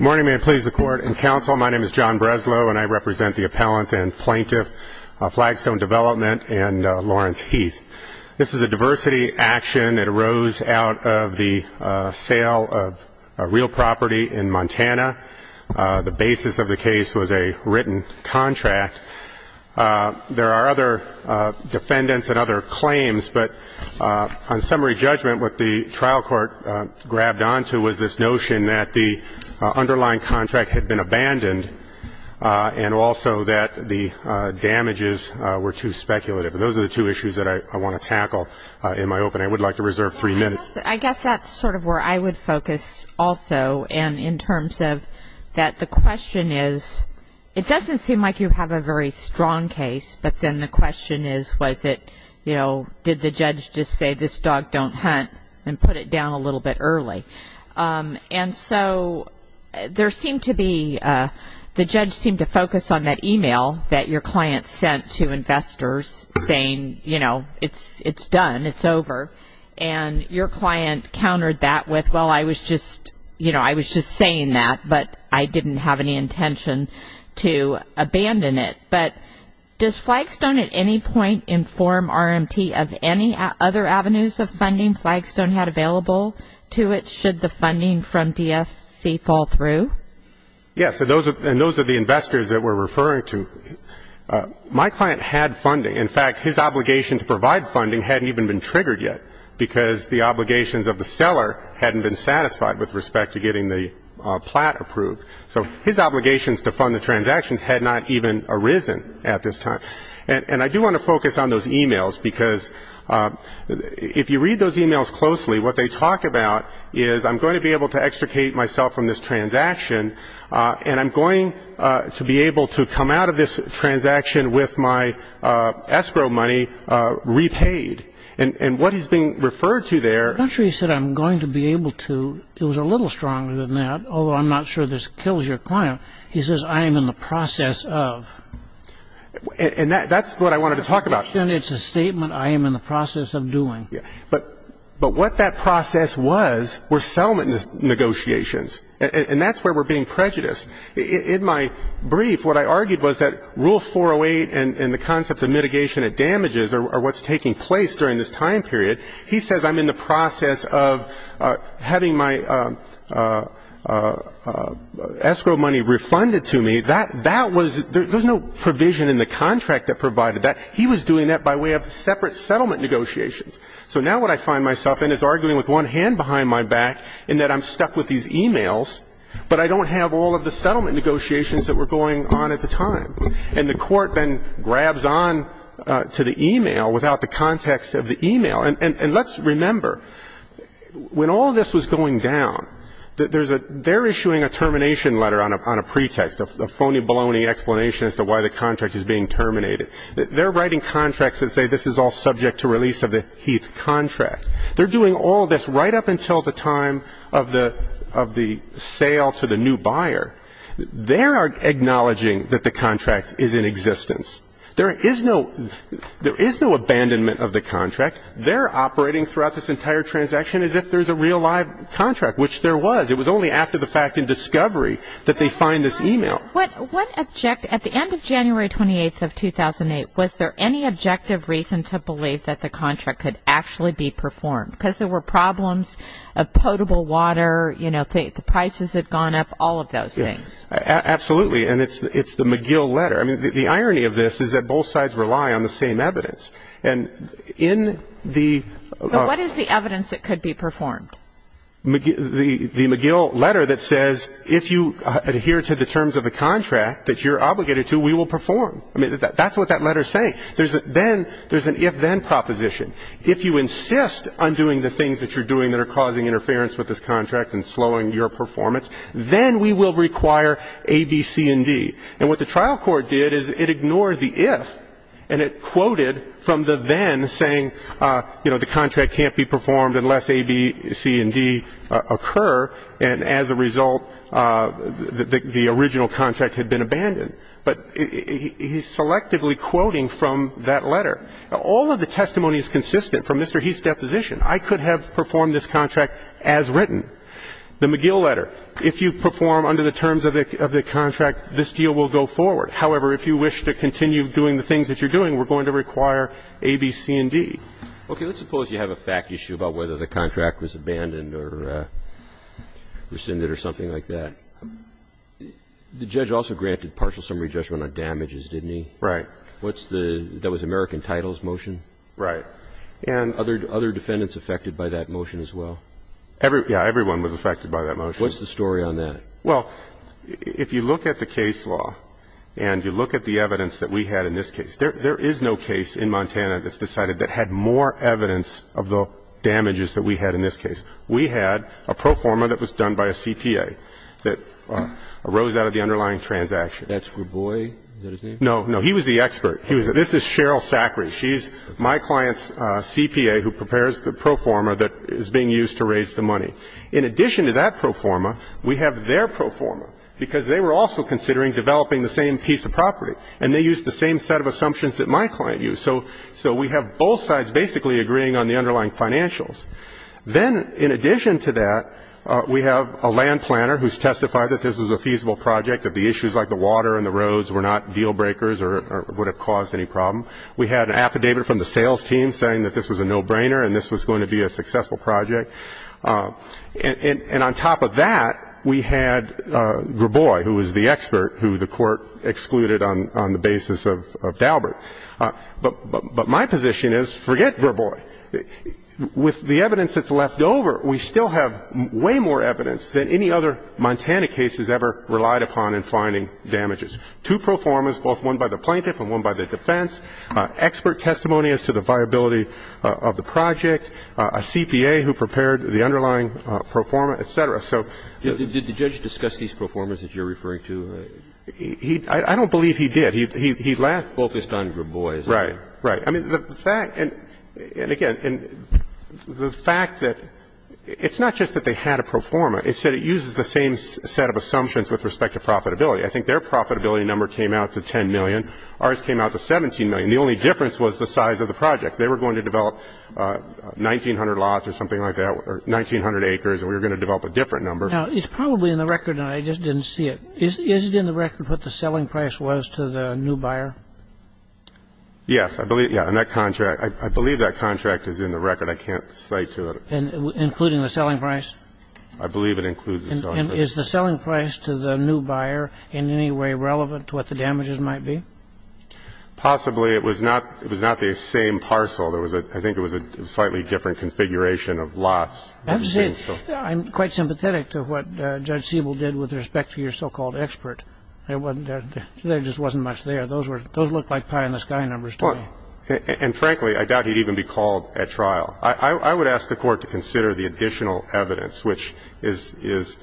Morning, may it please the court and counsel, my name is John Breslow and I represent the appellant and plaintiff Flagstone Development and Lawrence Heath. This is a diversity action that arose out of the sale of a real property in Montana. The basis of the case was a written contract. There are other defendants and other claims, but on summary judgment what the trial court grabbed onto was this notion that the underlying contract had been abandoned and also that the damages were too speculative. Those are the two issues that I want to tackle in my opening. I would like to reserve three minutes. I guess that's sort of where I would focus also and in terms of that the question is it doesn't seem like you have a very strong case, but then the question is was it, you know, did the judge just say this dog don't hunt and put it down a little bit early. And so there seemed to be, the judge seemed to focus on that email that your client sent to investors saying, you know, it's done, it's over. And your client countered that with, well, I was just, you know, I was just saying that, but I didn't have any intention to abandon it. But does Flagstone at any point inform RMT of any other avenues of funding Flagstone had available to it should the funding from DFC fall through? Yes, and those are the investors that we're referring to. My client had funding. In fact, his obligation to provide funding hadn't even been triggered yet because the obligations of the seller hadn't been satisfied with respect to getting the plat approved. So his obligations to fund the transactions had not even arisen at this time. And I do want to focus on those emails because if you read those emails closely, what they talk about is I'm going to be able to extricate myself from this transaction, and I'm going to be able to come out of this transaction with my escrow money repaid. And what he's being referred to there. I'm not sure he said I'm going to be able to. It was a little stronger than that, although I'm not sure this kills your client. He says I am in the process of. And that's what I wanted to talk about. It's a statement I am in the process of doing. But what that process was were settlement negotiations, and that's where we're being prejudiced. In my brief, what I argued was that Rule 408 and the concept of mitigation of damages are what's taking place during this time period. He says I'm in the process of having my escrow money refunded to me. That was no provision in the contract that provided that. He was doing that by way of separate settlement negotiations. So now what I find myself in is arguing with one hand behind my back in that I'm stuck with these emails, but I don't have all of the settlement negotiations that were going on at the time. And the court then grabs on to the email without the context of the email. And let's remember, when all of this was going down, they're issuing a termination letter on a pretext, a phony baloney explanation as to why the contract is being terminated. They're writing contracts that say this is all subject to release of the Heath contract. They're doing all this right up until the time of the sale to the new buyer. They are acknowledging that the contract is in existence. There is no abandonment of the contract. They're operating throughout this entire transaction as if there's a real live contract, which there was. It was only after the fact in discovery that they find this email. At the end of January 28th of 2008, was there any objective reason to believe that the contract could actually be performed? Because there were problems of potable water, you know, the prices had gone up, all of those things. Absolutely. And it's the McGill letter. I mean, the irony of this is that both sides rely on the same evidence. And in the ---- But what is the evidence that could be performed? The McGill letter that says if you adhere to the terms of the contract that you're obligated to, we will perform. I mean, that's what that letter is saying. Then there's an if-then proposition. If you insist on doing the things that you're doing that are causing interference with this contract and slowing your performance, then we will require A, B, C, and D. And what the trial court did is it ignored the if and it quoted from the then saying, you know, the contract can't be performed unless A, B, C, and D occur, and as a result the original contract had been abandoned. But he's selectively quoting from that letter. All of the testimony is consistent from Mr. Heath's deposition. I could have performed this contract as written. The McGill letter. If you perform under the terms of the contract, this deal will go forward. However, if you wish to continue doing the things that you're doing, we're going to require A, B, C, and D. Okay. Let's suppose you have a fact issue about whether the contract was abandoned or rescinded or something like that. The judge also granted partial summary judgment on damages, didn't he? Right. What's the ---- that was American titles motion? Right. And other defendants affected by that motion as well? Yeah. Everyone was affected by that motion. What's the story on that? Well, if you look at the case law and you look at the evidence that we had in this case, there is no case in Montana that's decided that had more evidence of the damages that we had in this case. We had a pro forma that was done by a CPA that arose out of the underlying transaction. That's Graboi? Is that his name? He was the expert. This is Cheryl Sackrey. She's my client's CPA who prepares the pro forma that is being used to raise the money. In addition to that pro forma, we have their pro forma, because they were also considering developing the same piece of property, and they used the same set of assumptions that my client used. So we have both sides basically agreeing on the underlying financials. Then in addition to that, we have a land planner who's testified that this was a feasible project, that the issues like the water and the roads were not deal breakers or would have caused any problem. We had an affidavit from the sales team saying that this was a no-brainer and this was going to be a successful project. And on top of that, we had Graboi, who was the expert, who the Court excluded on the basis of Daubert. But my position is forget Graboi. With the evidence that's left over, we still have way more evidence than any other Montana case has ever relied upon in finding damages. And so I think it's important to understand that the judge has used two pro formas, both one by the plaintiff and one by the defense, expert testimonious to the viability of the project, a CPA who prepared the underlying pro forma, et cetera. So the judge discussed these pro formas that you're referring to? I don't believe he did. He laughed. Focused on Graboi. Right. I mean, the fact, and again, the fact that it's not just that they had a pro forma. Instead, it uses the same set of assumptions with respect to profitability. I think their profitability number came out to $10 million. Ours came out to $17 million. The only difference was the size of the project. They were going to develop 1,900 lots or something like that, or 1,900 acres, and we were going to develop a different number. Now, it's probably in the record, and I just didn't see it. Is it in the record what the selling price was to the new buyer? Yes. Yeah. In that contract. I believe that contract is in the record. I can't cite to it. Including the selling price? I believe it includes the selling price. And is the selling price to the new buyer in any way relevant to what the damages might be? Possibly. It was not the same parcel. I think it was a slightly different configuration of lots. I have to say, I'm quite sympathetic to what Judge Siebel did with respect to your so-called expert. There just wasn't much there. Those looked like pie-in-the-sky numbers to me. And, frankly, I doubt he'd even be called at trial. I would ask the Court to consider the additional evidence, which is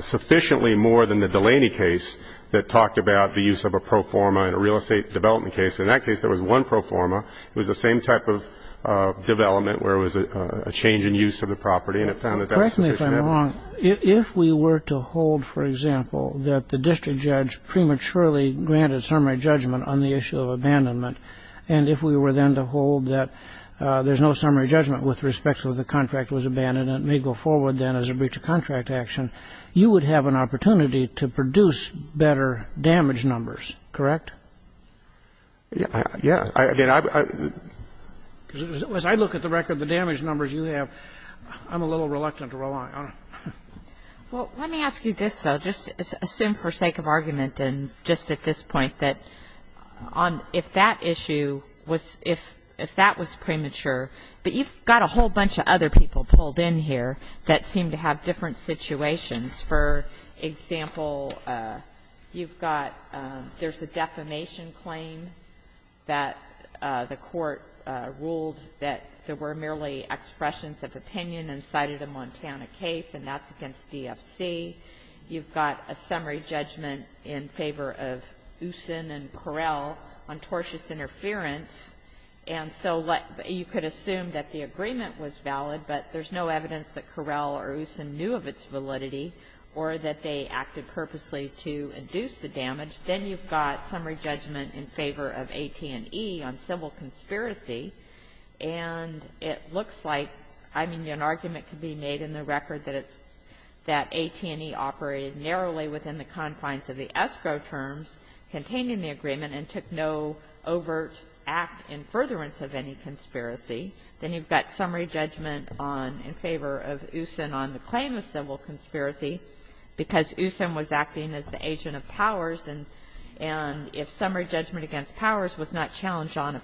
sufficiently more than the Delaney case that talked about the use of a pro forma in a real estate development case. In that case, there was one pro forma. It was the same type of development where it was a change in use of the property, and it found that that was sufficient. Correct me if I'm wrong. If we were to hold, for example, that the district judge prematurely granted summary judgment on the issue of abandonment, and if we were then to hold that there's no summary judgment with respect to whether the contract was abandoned and it may go forward then as a breach of contract action, you would have an opportunity to produce better damage numbers, correct? Yeah. As I look at the record, the damage numbers you have, I'm a little reluctant to rely on them. Well, let me ask you this, though. I would just assume for sake of argument and just at this point that if that issue was, if that was premature, but you've got a whole bunch of other people pulled in here that seem to have different situations. For example, you've got, there's a defamation claim that the Court ruled that there were merely expressions of opinion and cited a Montana case, and that's against DFC. You've got a summary judgment in favor of Usin and Correll on tortious interference, and so you could assume that the agreement was valid, but there's no evidence that Correll or Usin knew of its validity or that they acted purposely to induce the damage. Then you've got summary judgment in favor of AT&E on civil conspiracy, and it looks like, I mean, an argument could be made in the record that it's, that AT&E operated narrowly within the confines of the escrow terms contained in the agreement and took no overt act in furtherance of any conspiracy. Then you've got summary judgment on, in favor of Usin on the claim of civil conspiracy, because Usin was acting as the agent of Powers, and if summary judgment against Usin is not valid, then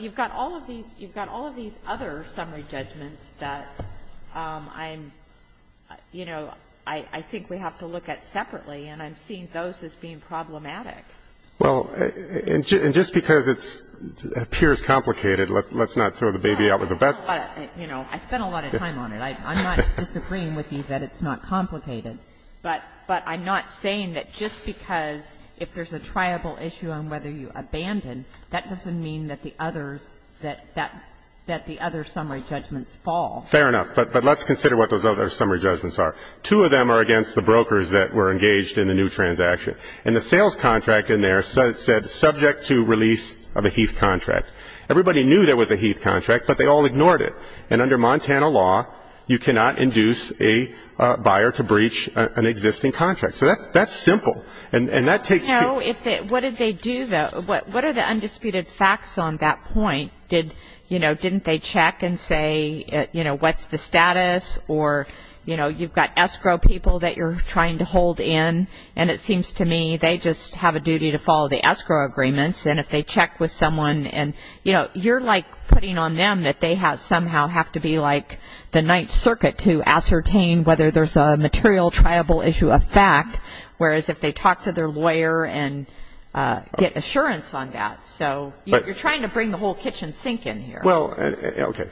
you've got all of these other summary judgments that I'm, you know, I think we have to look at separately, and I'm seeing those as being problematic. Well, and just because it appears complicated, let's not throw the baby out with the bat. I spent a lot of time on it. I'm not disagreeing with you that it's not complicated, but I'm not saying that just because if there's a triable issue on whether you abandon, that doesn't mean that the others, that the other summary judgments fall. Fair enough. But let's consider what those other summary judgments are. Two of them are against the brokers that were engaged in the new transaction, and the sales contract in there said subject to release of a Heath contract. Everybody knew there was a Heath contract, but they all ignored it. And under Montana law, you cannot induce a buyer to breach an existing contract. So that's simple. And that takes the – So what did they do, though? What are the undisputed facts on that point? Did, you know, didn't they check and say, you know, what's the status? Or, you know, you've got escrow people that you're trying to hold in, and it seems to me they just have a duty to follow the escrow agreements. And if they check with someone and, you know, you're like putting on them that they somehow have to be like the Ninth Circuit to ascertain whether there's a material attributable issue of fact, whereas if they talk to their lawyer and get assurance on that. So you're trying to bring the whole kitchen sink in here. Well, okay.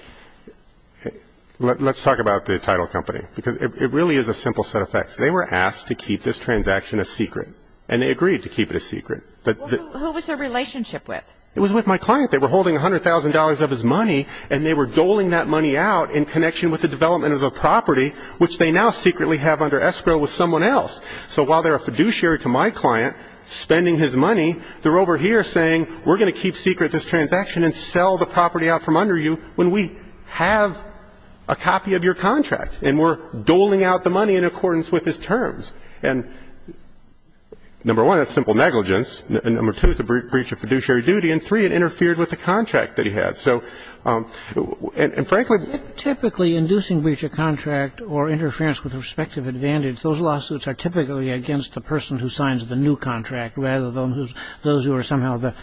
Let's talk about the title company, because it really is a simple set of facts. They were asked to keep this transaction a secret, and they agreed to keep it a secret. Who was their relationship with? It was with my client. They were holding $100,000 of his money, and they were doling that money out in connection with the development of the property, which they now secretly have under escrow with someone else. So while they're a fiduciary to my client spending his money, they're over here saying we're going to keep secret this transaction and sell the property out from under you when we have a copy of your contract, and we're doling out the money in accordance with his terms. And number one, that's simple negligence. Number two, it's a breach of fiduciary duty. And three, it interfered with the contract that he had. So, and frankly. Typically, inducing breach of contract or interference with respective advantage, those lawsuits are typically against the person who signs the new contract rather than those who are somehow the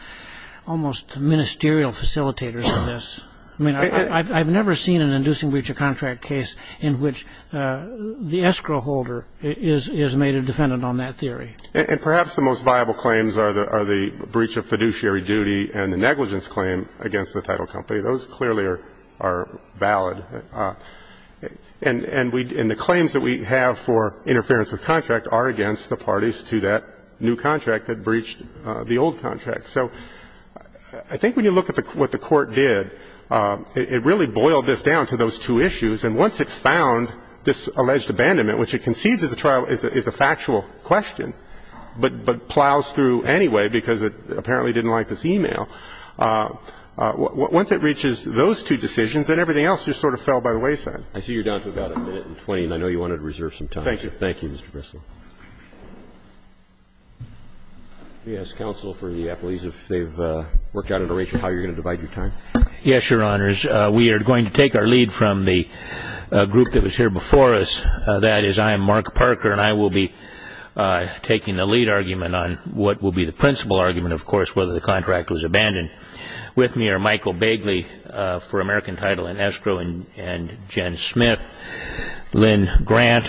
almost ministerial facilitators of this. I mean, I've never seen an inducing breach of contract case in which the escrow holder is made a defendant on that theory. And perhaps the most viable claims are the breach of fiduciary duty and the negligence claim against the title company. Those clearly are valid. And the claims that we have for interference with contract are against the parties to that new contract that breached the old contract. So I think when you look at what the Court did, it really boiled this down to those two issues. And once it found this alleged abandonment, which it concedes is a factual question but plows through anyway because it apparently didn't like this e-mail, once it reaches those two decisions, then everything else just sort of fell by the wayside. I see you're down to about a minute and 20, and I know you wanted to reserve some time. Thank you. Thank you, Mr. Bressler. Let me ask counsel for the appellees if they've worked out a narration of how you're going to divide your time. Yes, Your Honors. We are going to take our lead from the group that was here before us. That is I am Mark Parker, and I will be taking the lead argument on what will be the principal argument, of course, whether the contract was abandoned. With me are Michael Bagley for American Title and Escrow, and Jen Smith, Lynn Grant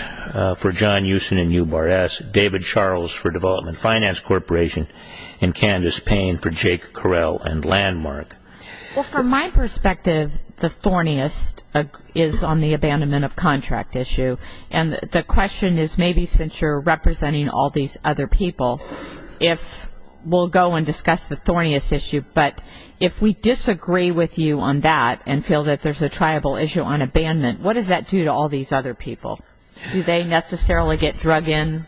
for John Euston and U-Bar-S, David Charles for Development Finance Corporation, and Candace Payne for Jake Correll and Landmark. Well, from my perspective, the thorniest is on the abandonment of contract issue, and the question is maybe since you're representing all these other people, if we'll go and discuss the thorniest issue, but if we disagree with you on that and feel that there's a triable issue on abandonment, what does that do to all these other people? Do they necessarily get drug in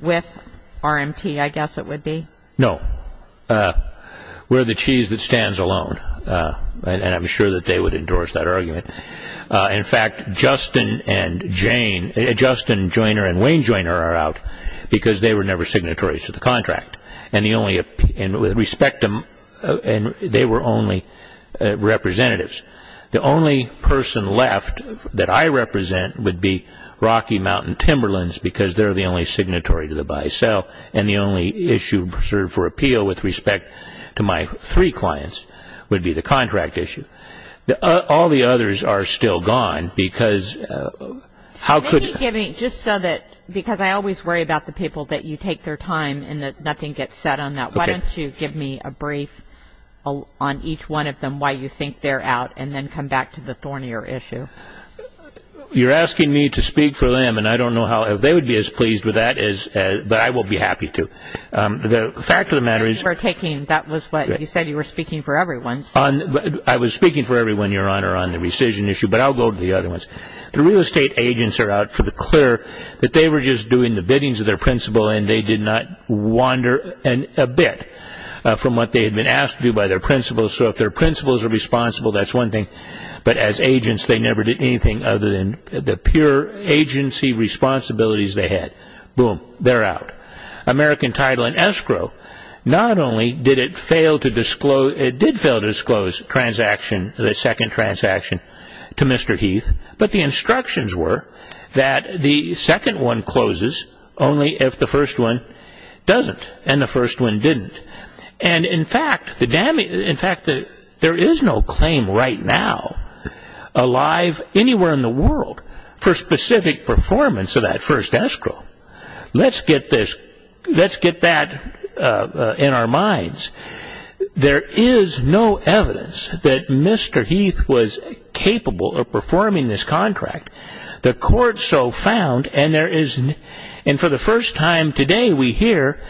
with RMT, I guess it would be? No. We're the cheese that stands alone, and I'm sure that they would endorse that argument. In fact, Justin Joyner and Wayne Joyner are out because they were never signatories to the contract, and they were only representatives. The only person left that I represent would be Rocky Mountain Timberlands because they're the only signatory to the buy-sell, and the only issue reserved for appeal with respect to my three clients would be the contract issue. All the others are still gone because how could... Just so that, because I always worry about the people that you take their time and that nothing gets said on that. Why don't you give me a brief on each one of them, why you think they're out, and then come back to the thornier issue. You're asking me to speak for them, and I don't know how they would be as pleased with that, but I will be happy to. The fact of the matter is... You said you were speaking for everyone. I was speaking for everyone, Your Honor, on the rescission issue, but I'll go to the other ones. The real estate agents are out for the clear, but they were just doing the biddings of their principal, and they did not wander a bit from what they had been asked to do by their principal. So if their principals are responsible, that's one thing, but as agents, they never did anything other than the pure agency responsibilities they had. Boom, they're out. American Title and Escrow, not only did it fail to disclose, it did fail to disclose the second transaction to Mr. Heath, but the instructions were that the second one closes only if the first one doesn't, and the first one didn't. In fact, there is no claim right now alive anywhere in the world for specific performance of that first escrow. Let's get that in our minds. There is no evidence that Mr. Heath was capable of performing this contract. The court so found, and for the first time today, we hear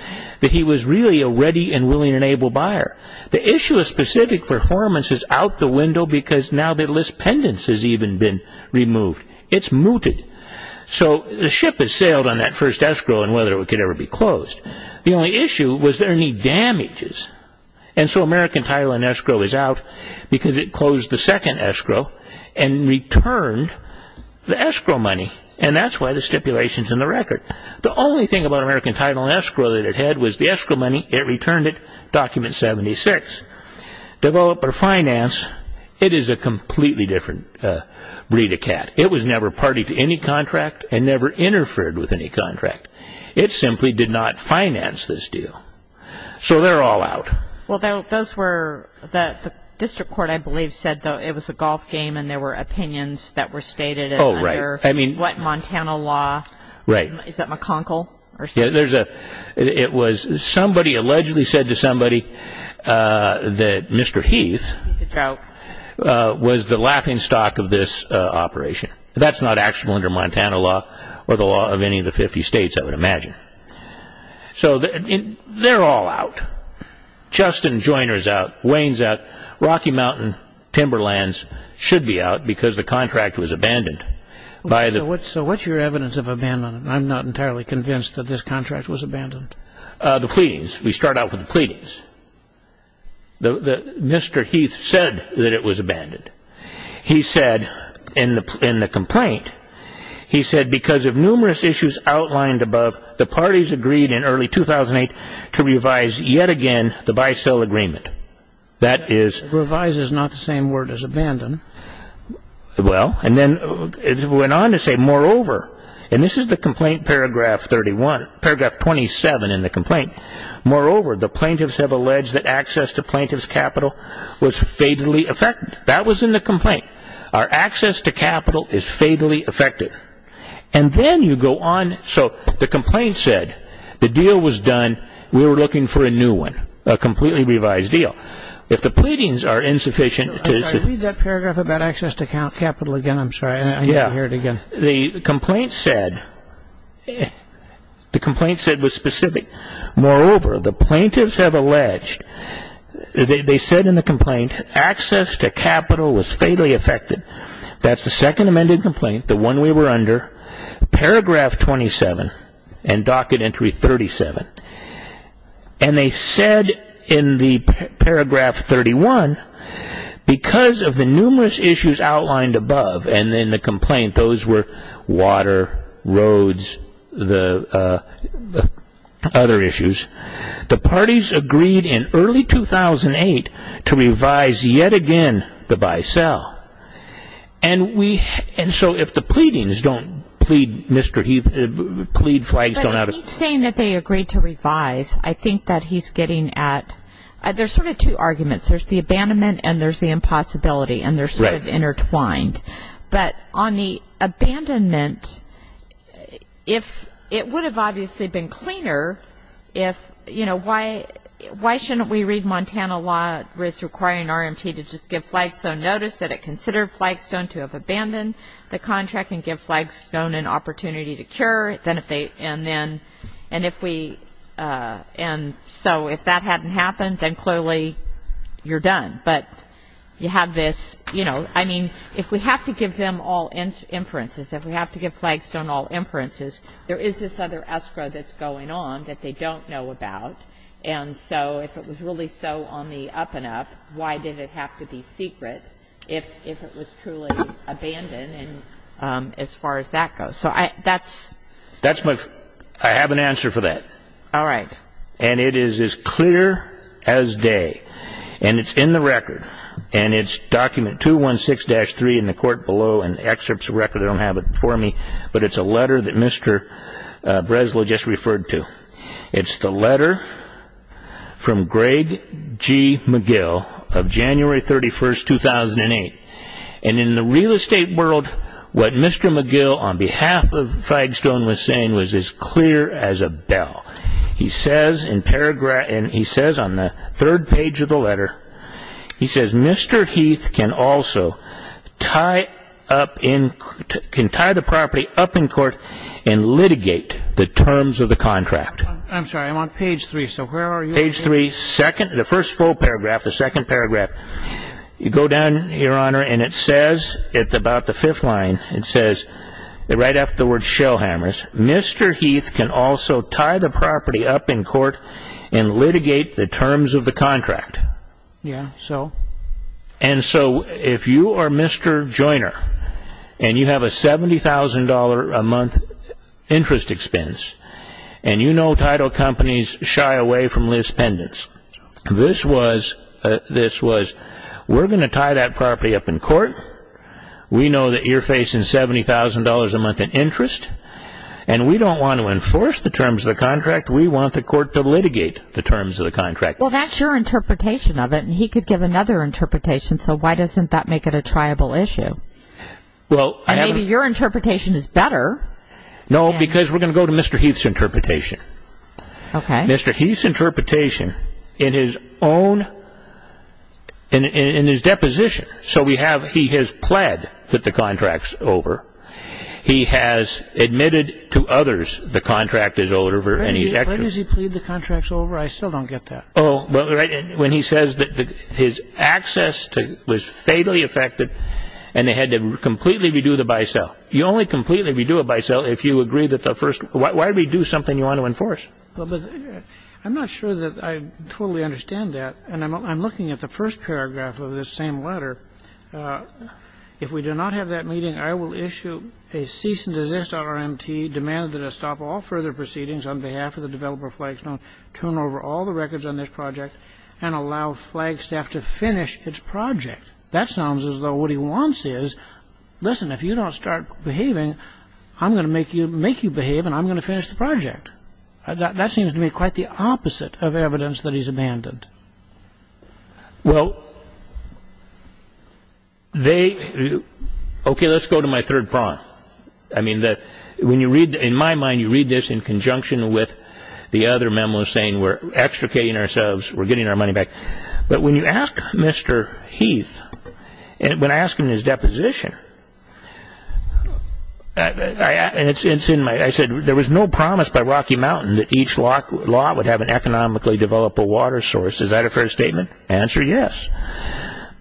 that he was really a ready and willing and able buyer. The issue of specific performance is out the window because now the list pendants has even been removed. It's mooted. So the ship has sailed on that first escrow and whether it could ever be closed. The only issue was there any damages, and so American Title and Escrow is out because it closed the second escrow and returned the escrow money, and that's why the stipulation is in the record. The only thing about American Title and Escrow that it had was the escrow money. It returned it, Document 76. Developer Finance, it is a completely different breed of cat. It was never party to any contract and never interfered with any contract. It simply did not finance this deal. So they're all out. Well, the district court, I believe, said it was a golf game and there were opinions that were stated under, what, Montana law? Right. Is that McConkel? Somebody allegedly said to somebody that Mr. Heath was the laughingstock of this operation. That's not actually under Montana law or the law of any of the 50 states, I would imagine. So they're all out. Justin Joyner is out. Wayne is out. Rocky Mountain Timberlands should be out because the contract was abandoned. So what's your evidence of abandonment? I'm not entirely convinced that this contract was abandoned. The pleadings. We start out with the pleadings. Mr. Heath said that it was abandoned. He said in the complaint, he said because of numerous issues outlined above, the parties agreed in early 2008 to revise yet again the bisel agreement. That is... Revise is not the same word as abandon. Well, and then it went on to say, moreover, and this is the complaint paragraph 31, paragraph 27 in the complaint, moreover, the plaintiffs have alleged that access to plaintiff's capital was fatally affected. That was in the complaint. Our access to capital is fatally affected. And then you go on. So the complaint said the deal was done. We were looking for a new one, a completely revised deal. If the pleadings are insufficient... Can you read that paragraph about access to capital again? I'm sorry. I need to hear it again. The complaint said, the complaint said was specific. Moreover, the plaintiffs have alleged, they said in the complaint, access to capital was fatally affected. That's the second amended complaint, the one we were under, paragraph 27 and docket entry 37. And they said in the paragraph 31, because of the numerous issues outlined above, and in the complaint, those were water, roads, the other issues, the parties agreed in early 2008 to revise yet again the buy-sell. And so if the pleadings don't plead, Mr. Heath, plead flags don't have... When he's saying that they agreed to revise, I think that he's getting at, there's sort of two arguments. There's the abandonment and there's the impossibility, and they're sort of intertwined. But on the abandonment, it would have obviously been cleaner if, you know, why shouldn't we read Montana law requiring RMT to just give Flagstone notice that it considered Flagstone to have abandoned the contract and give Flagstone an opportunity to cure? And then if we, and so if that hadn't happened, then clearly you're done. But you have this, you know, I mean, if we have to give them all inferences, if we have to give Flagstone all inferences, there is this other escrow that's going on that they don't know about. And so if it was really so on the up and up, why did it have to be secret if it was truly abandoned as far as that goes? That's my, I have an answer for that. All right. And it is as clear as day. And it's in the record, and it's document 216-3 in the court below, and the excerpt's a record, I don't have it before me, but it's a letter that Mr. Breslow just referred to. It's the letter from Greg G. McGill of January 31, 2008. And in the real estate world, what Mr. McGill, on behalf of Flagstone, was saying was as clear as a bell. He says in paragraph, and he says on the third page of the letter, he says Mr. Heath can also tie up in, can tie the property up in court and litigate the terms of the contract. I'm sorry, I'm on page three, so where are you? Page three, second, the first full paragraph, the second paragraph. You go down, Your Honor, and it says, it's about the fifth line, it says right after the word shellhammers, Mr. Heath can also tie the property up in court and litigate the terms of the contract. Yeah, so? And so if you are Mr. Joiner, and you have a $70,000 a month interest expense, and you know title companies shy away from Liz Pendence, this was, we're going to tie that property up in court, we know that you're facing $70,000 a month in interest, and we don't want to enforce the terms of the contract, we want the court to litigate the terms of the contract. Well, that's your interpretation of it, and he could give another interpretation, so why doesn't that make it a triable issue? And maybe your interpretation is better. No, because we're going to go to Mr. Heath's interpretation. Okay. Mr. Heath's interpretation in his own, in his deposition, so we have he has pled with the contracts over, he has admitted to others the contract is owed over, and he's actually ---- When does he plead the contracts over? I still don't get that. Oh, well, when he says that his access was fatally affected, and they had to completely redo the buy-sell. You only completely redo a buy-sell if you agree that the first, why do we do something you want to enforce? Well, but I'm not sure that I totally understand that, and I'm looking at the first paragraph of this same letter. If we do not have that meeting, I will issue a cease-and-desist RMT demanding that I stop all further proceedings on behalf of the developer of Flagstone, turn over all the records on this project, and allow Flagstaff to finish its project. That sounds as though what he wants is, listen, if you don't start behaving, I'm going to make you behave, and I'm going to finish the project. That seems to me quite the opposite of evidence that he's abandoned. Well, they, okay, let's go to my third point. I mean, when you read, in my mind, you read this in conjunction with the other memo saying we're extricating ourselves, we're getting our money back. But when you ask Mr. Heath, when I asked him his deposition, and it's in my, I said there was no promise by Rocky Mountain that each lot would have an economically developable water source. Is that a fair statement? Answer, yes.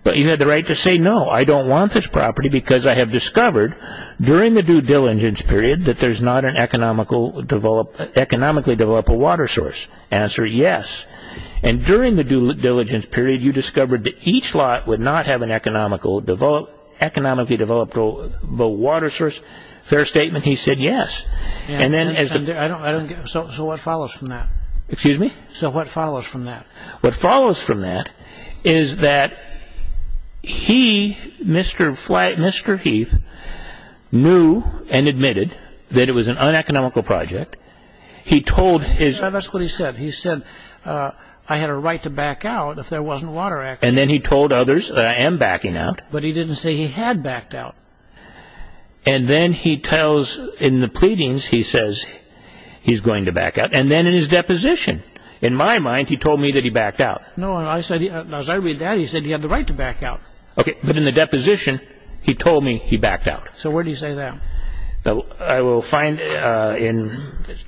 But you had the right to say no, I don't want this property because I have discovered during the due diligence period that there's not an economically developable water source. Answer, yes. And during the due diligence period, you discovered that each lot would not have an economically developable water source. Fair statement? He said yes. So what follows from that? Excuse me? So what follows from that? What follows from that is that he, Mr. Heath, knew and admitted that it was an uneconomical project. That's what he said. He said I had a right to back out if there wasn't water access. And then he told others that I am backing out. But he didn't say he had backed out. And then he tells in the pleadings, he says he's going to back out. And then in his deposition, in my mind, he told me that he backed out. No, as I read that, he said he had the right to back out. Okay, but in the deposition, he told me he backed out. So where do you say that? I will find in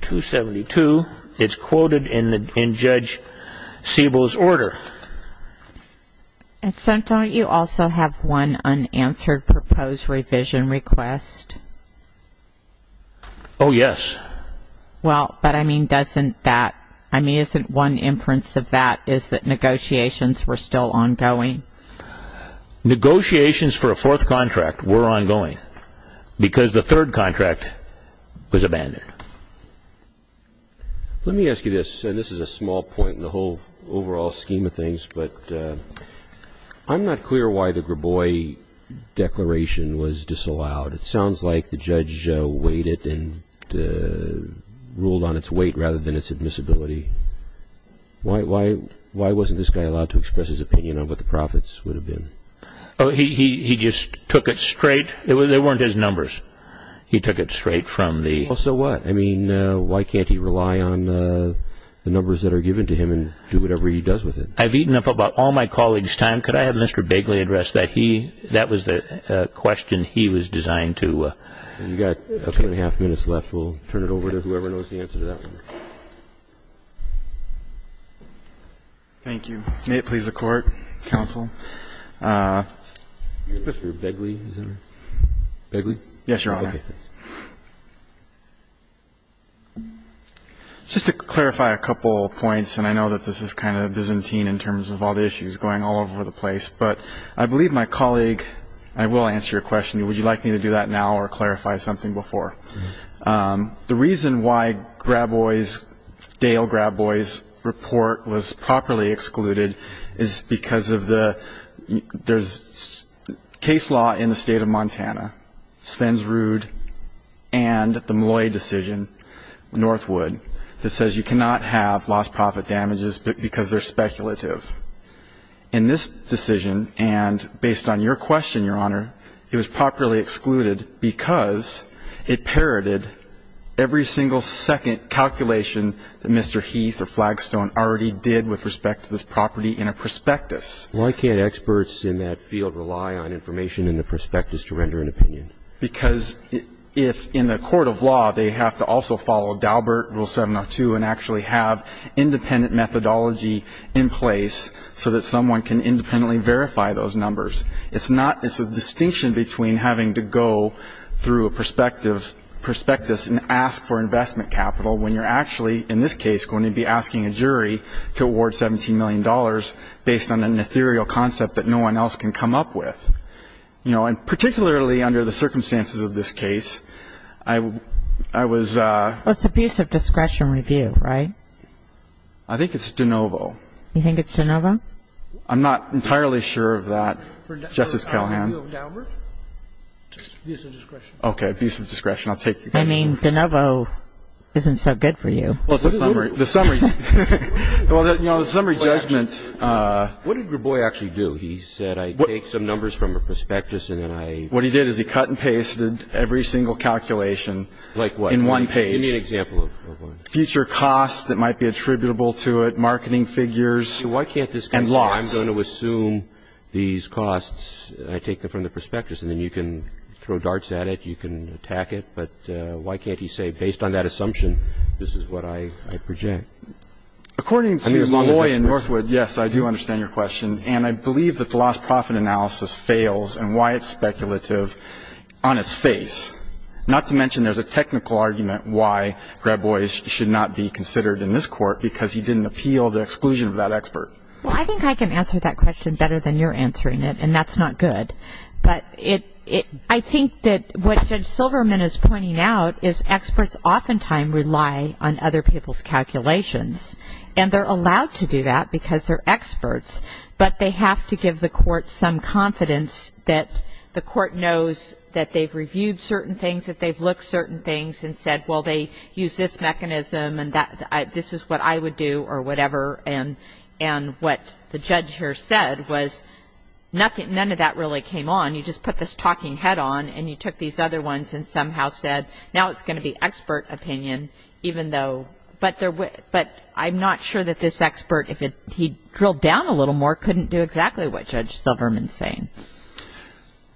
272, it's quoted in Judge Siebel's order. And so don't you also have one unanswered proposed revision request? Oh, yes. Well, but I mean, doesn't that, I mean, isn't one inference of that is that negotiations were still ongoing? Negotiations for a fourth contract were ongoing because the third contract was abandoned. Let me ask you this, and this is a small point in the whole overall scheme of things, but I'm not clear why the Grabois Declaration was disallowed. It sounds like the judge weighed it and ruled on its weight rather than its admissibility. Why wasn't this guy allowed to express his opinion on what the profits would have been? He just took it straight. They weren't his numbers. He took it straight from the… So what? I mean, why can't he rely on the numbers that are given to him and do whatever he does with it? I've eaten up about all my colleagues' time. Could I have Mr. Bagley address that? That was the question he was designed to… You've got a couple and a half minutes left. We'll turn it over to whoever knows the answer to that one. Thank you. May it please the Court, Counsel. Mr. Bagley, is that right? Bagley? Yes, Your Honor. Just to clarify a couple points, and I know that this is kind of Byzantine in terms of all the issues going all over the place, but I believe my colleague, I will answer your question, would you like me to do that now or clarify something before? The reason why Dale Graboy's report was properly excluded is because of the… There's case law in the state of Montana, Sven's Rude, and the Malloy decision, Northwood, that says you cannot have lost profit damages because they're speculative. In this decision, and based on your question, Your Honor, it was properly excluded because it parroted every single second calculation that Mr. Heath or Flagstone already did with respect to this property in a prospectus. Why can't experts in that field rely on information in the prospectus to render an opinion? Because if in the court of law they have to also follow Daubert, Rule 702, and actually have independent methodology in place so that someone can independently verify those numbers, it's a distinction between having to go through a prospectus and ask for investment capital when you're actually, in this case, going to be asking a jury to award $17 million based on an ethereal concept that no one else can come up with. And particularly under the circumstances of this case, I was… Well, it's abuse of discretion review, right? I think it's DeNovo. You think it's DeNovo? I'm not entirely sure of that, Justice Callahan. For the appeal of Daubert? Abuse of discretion. Okay, abuse of discretion. I'll take that. I mean, DeNovo isn't so good for you. Well, it's a summary. The summary. Well, you know, the summary judgment… What did your boy actually do? He said, I take some numbers from a prospectus and then I… What he did is he cut and pasted every single calculation… Like what? …in one page. Give me an example of one. Future costs that might be attributable to it, marketing figures, and lots. Why can't this guy say, I'm going to assume these costs, I take them from the prospectus, and then you can throw darts at it, you can attack it, but why can't he say, based on that assumption, this is what I project? According to Loy and Northwood, yes, I do understand your question, and I believe that the lost profit analysis fails and why it's speculative on its face, not to mention there's a technical argument why Grab Boys should not be considered in this court because he didn't appeal the exclusion of that expert. Well, I think I can answer that question better than you're answering it, and that's not good. But I think that what Judge Silverman is pointing out is experts oftentimes rely on other people's calculations, and they're allowed to do that because they're experts, but they have to give the court some confidence that the court knows that they've reviewed certain things, that they've looked certain things and said, well, they used this mechanism and this is what I would do or whatever, and what the judge here said was none of that really came on. You just put this talking head on, and you took these other ones and somehow said now it's going to be expert opinion even though. But I'm not sure that this expert, if he drilled down a little more, couldn't do exactly what Judge Silverman is saying.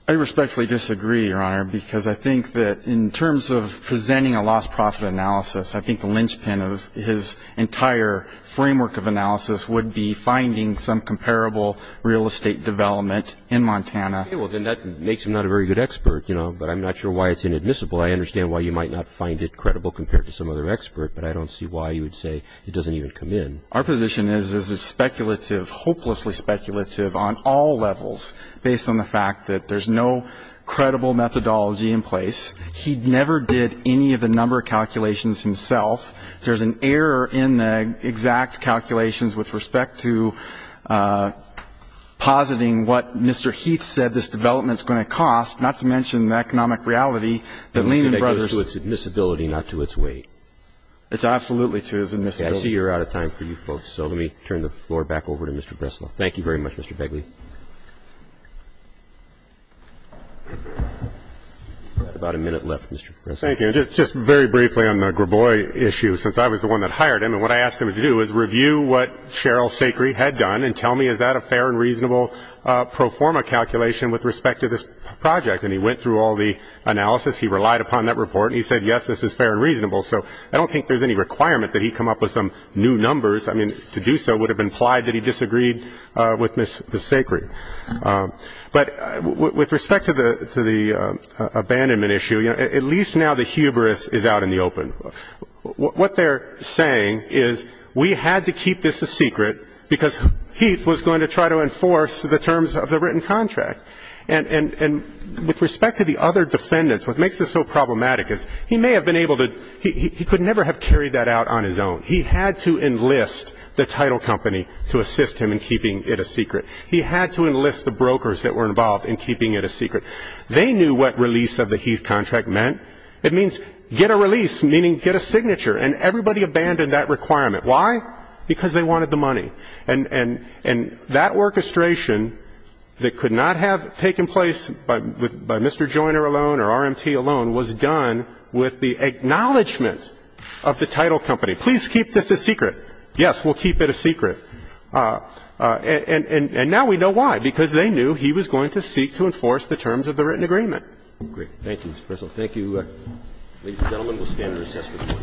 I respectfully disagree, Your Honor, because I think that in terms of presenting a lost profit analysis, I think the linchpin of his entire framework of analysis would be finding some comparable real estate development in Montana. Well, then that makes him not a very good expert, you know, but I'm not sure why it's inadmissible. I understand why you might not find it credible compared to some other expert, but I don't see why you would say it doesn't even come in. Our position is it's speculative, hopelessly speculative on all levels, based on the fact that there's no credible methodology in place. He never did any of the number calculations himself. There's an error in the exact calculations with respect to positing what Mr. Heath said this development's going to cost, not to mention the economic reality that Lehman Brothers. It goes to its admissibility, not to its weight. It's absolutely to its admissibility. Okay. I see you're out of time for you folks, so let me turn the floor back over to Mr. Breslau. Thank you very much, Mr. Begley. We've got about a minute left, Mr. Breslau. Thank you. Just very briefly on the Grabois issue, since I was the one that hired him, and what I asked him to do was review what Cheryl Sacre had done and tell me, is that a fair and reasonable pro forma calculation with respect to this project? And he went through all the analysis. He relied upon that report, and he said, yes, this is fair and reasonable. So I don't think there's any requirement that he come up with some new numbers. I mean, to do so would have implied that he disagreed with Ms. Sacre. But with respect to the abandonment issue, at least now the hubris is out in the open. What they're saying is we had to keep this a secret because Heath was going to try to enforce the terms of the written contract. And with respect to the other defendants, what makes this so problematic is he may have been able to ‑‑ he could never have carried that out on his own. He had to enlist the title company to assist him in keeping it a secret. He had to enlist the brokers that were involved in keeping it a secret. They knew what release of the Heath contract meant. It means get a release, meaning get a signature. And everybody abandoned that requirement. Why? Because they wanted the money. And that orchestration that could not have taken place by Mr. Joyner alone or RMT alone was done with the acknowledgment of the title company. Please keep this a secret. Yes, we'll keep it a secret. And now we know why. Because they knew he was going to seek to enforce the terms of the written agreement. Great. Thank you, Mr. Purcell. Thank you. Ladies and gentlemen, we'll stand for assessment.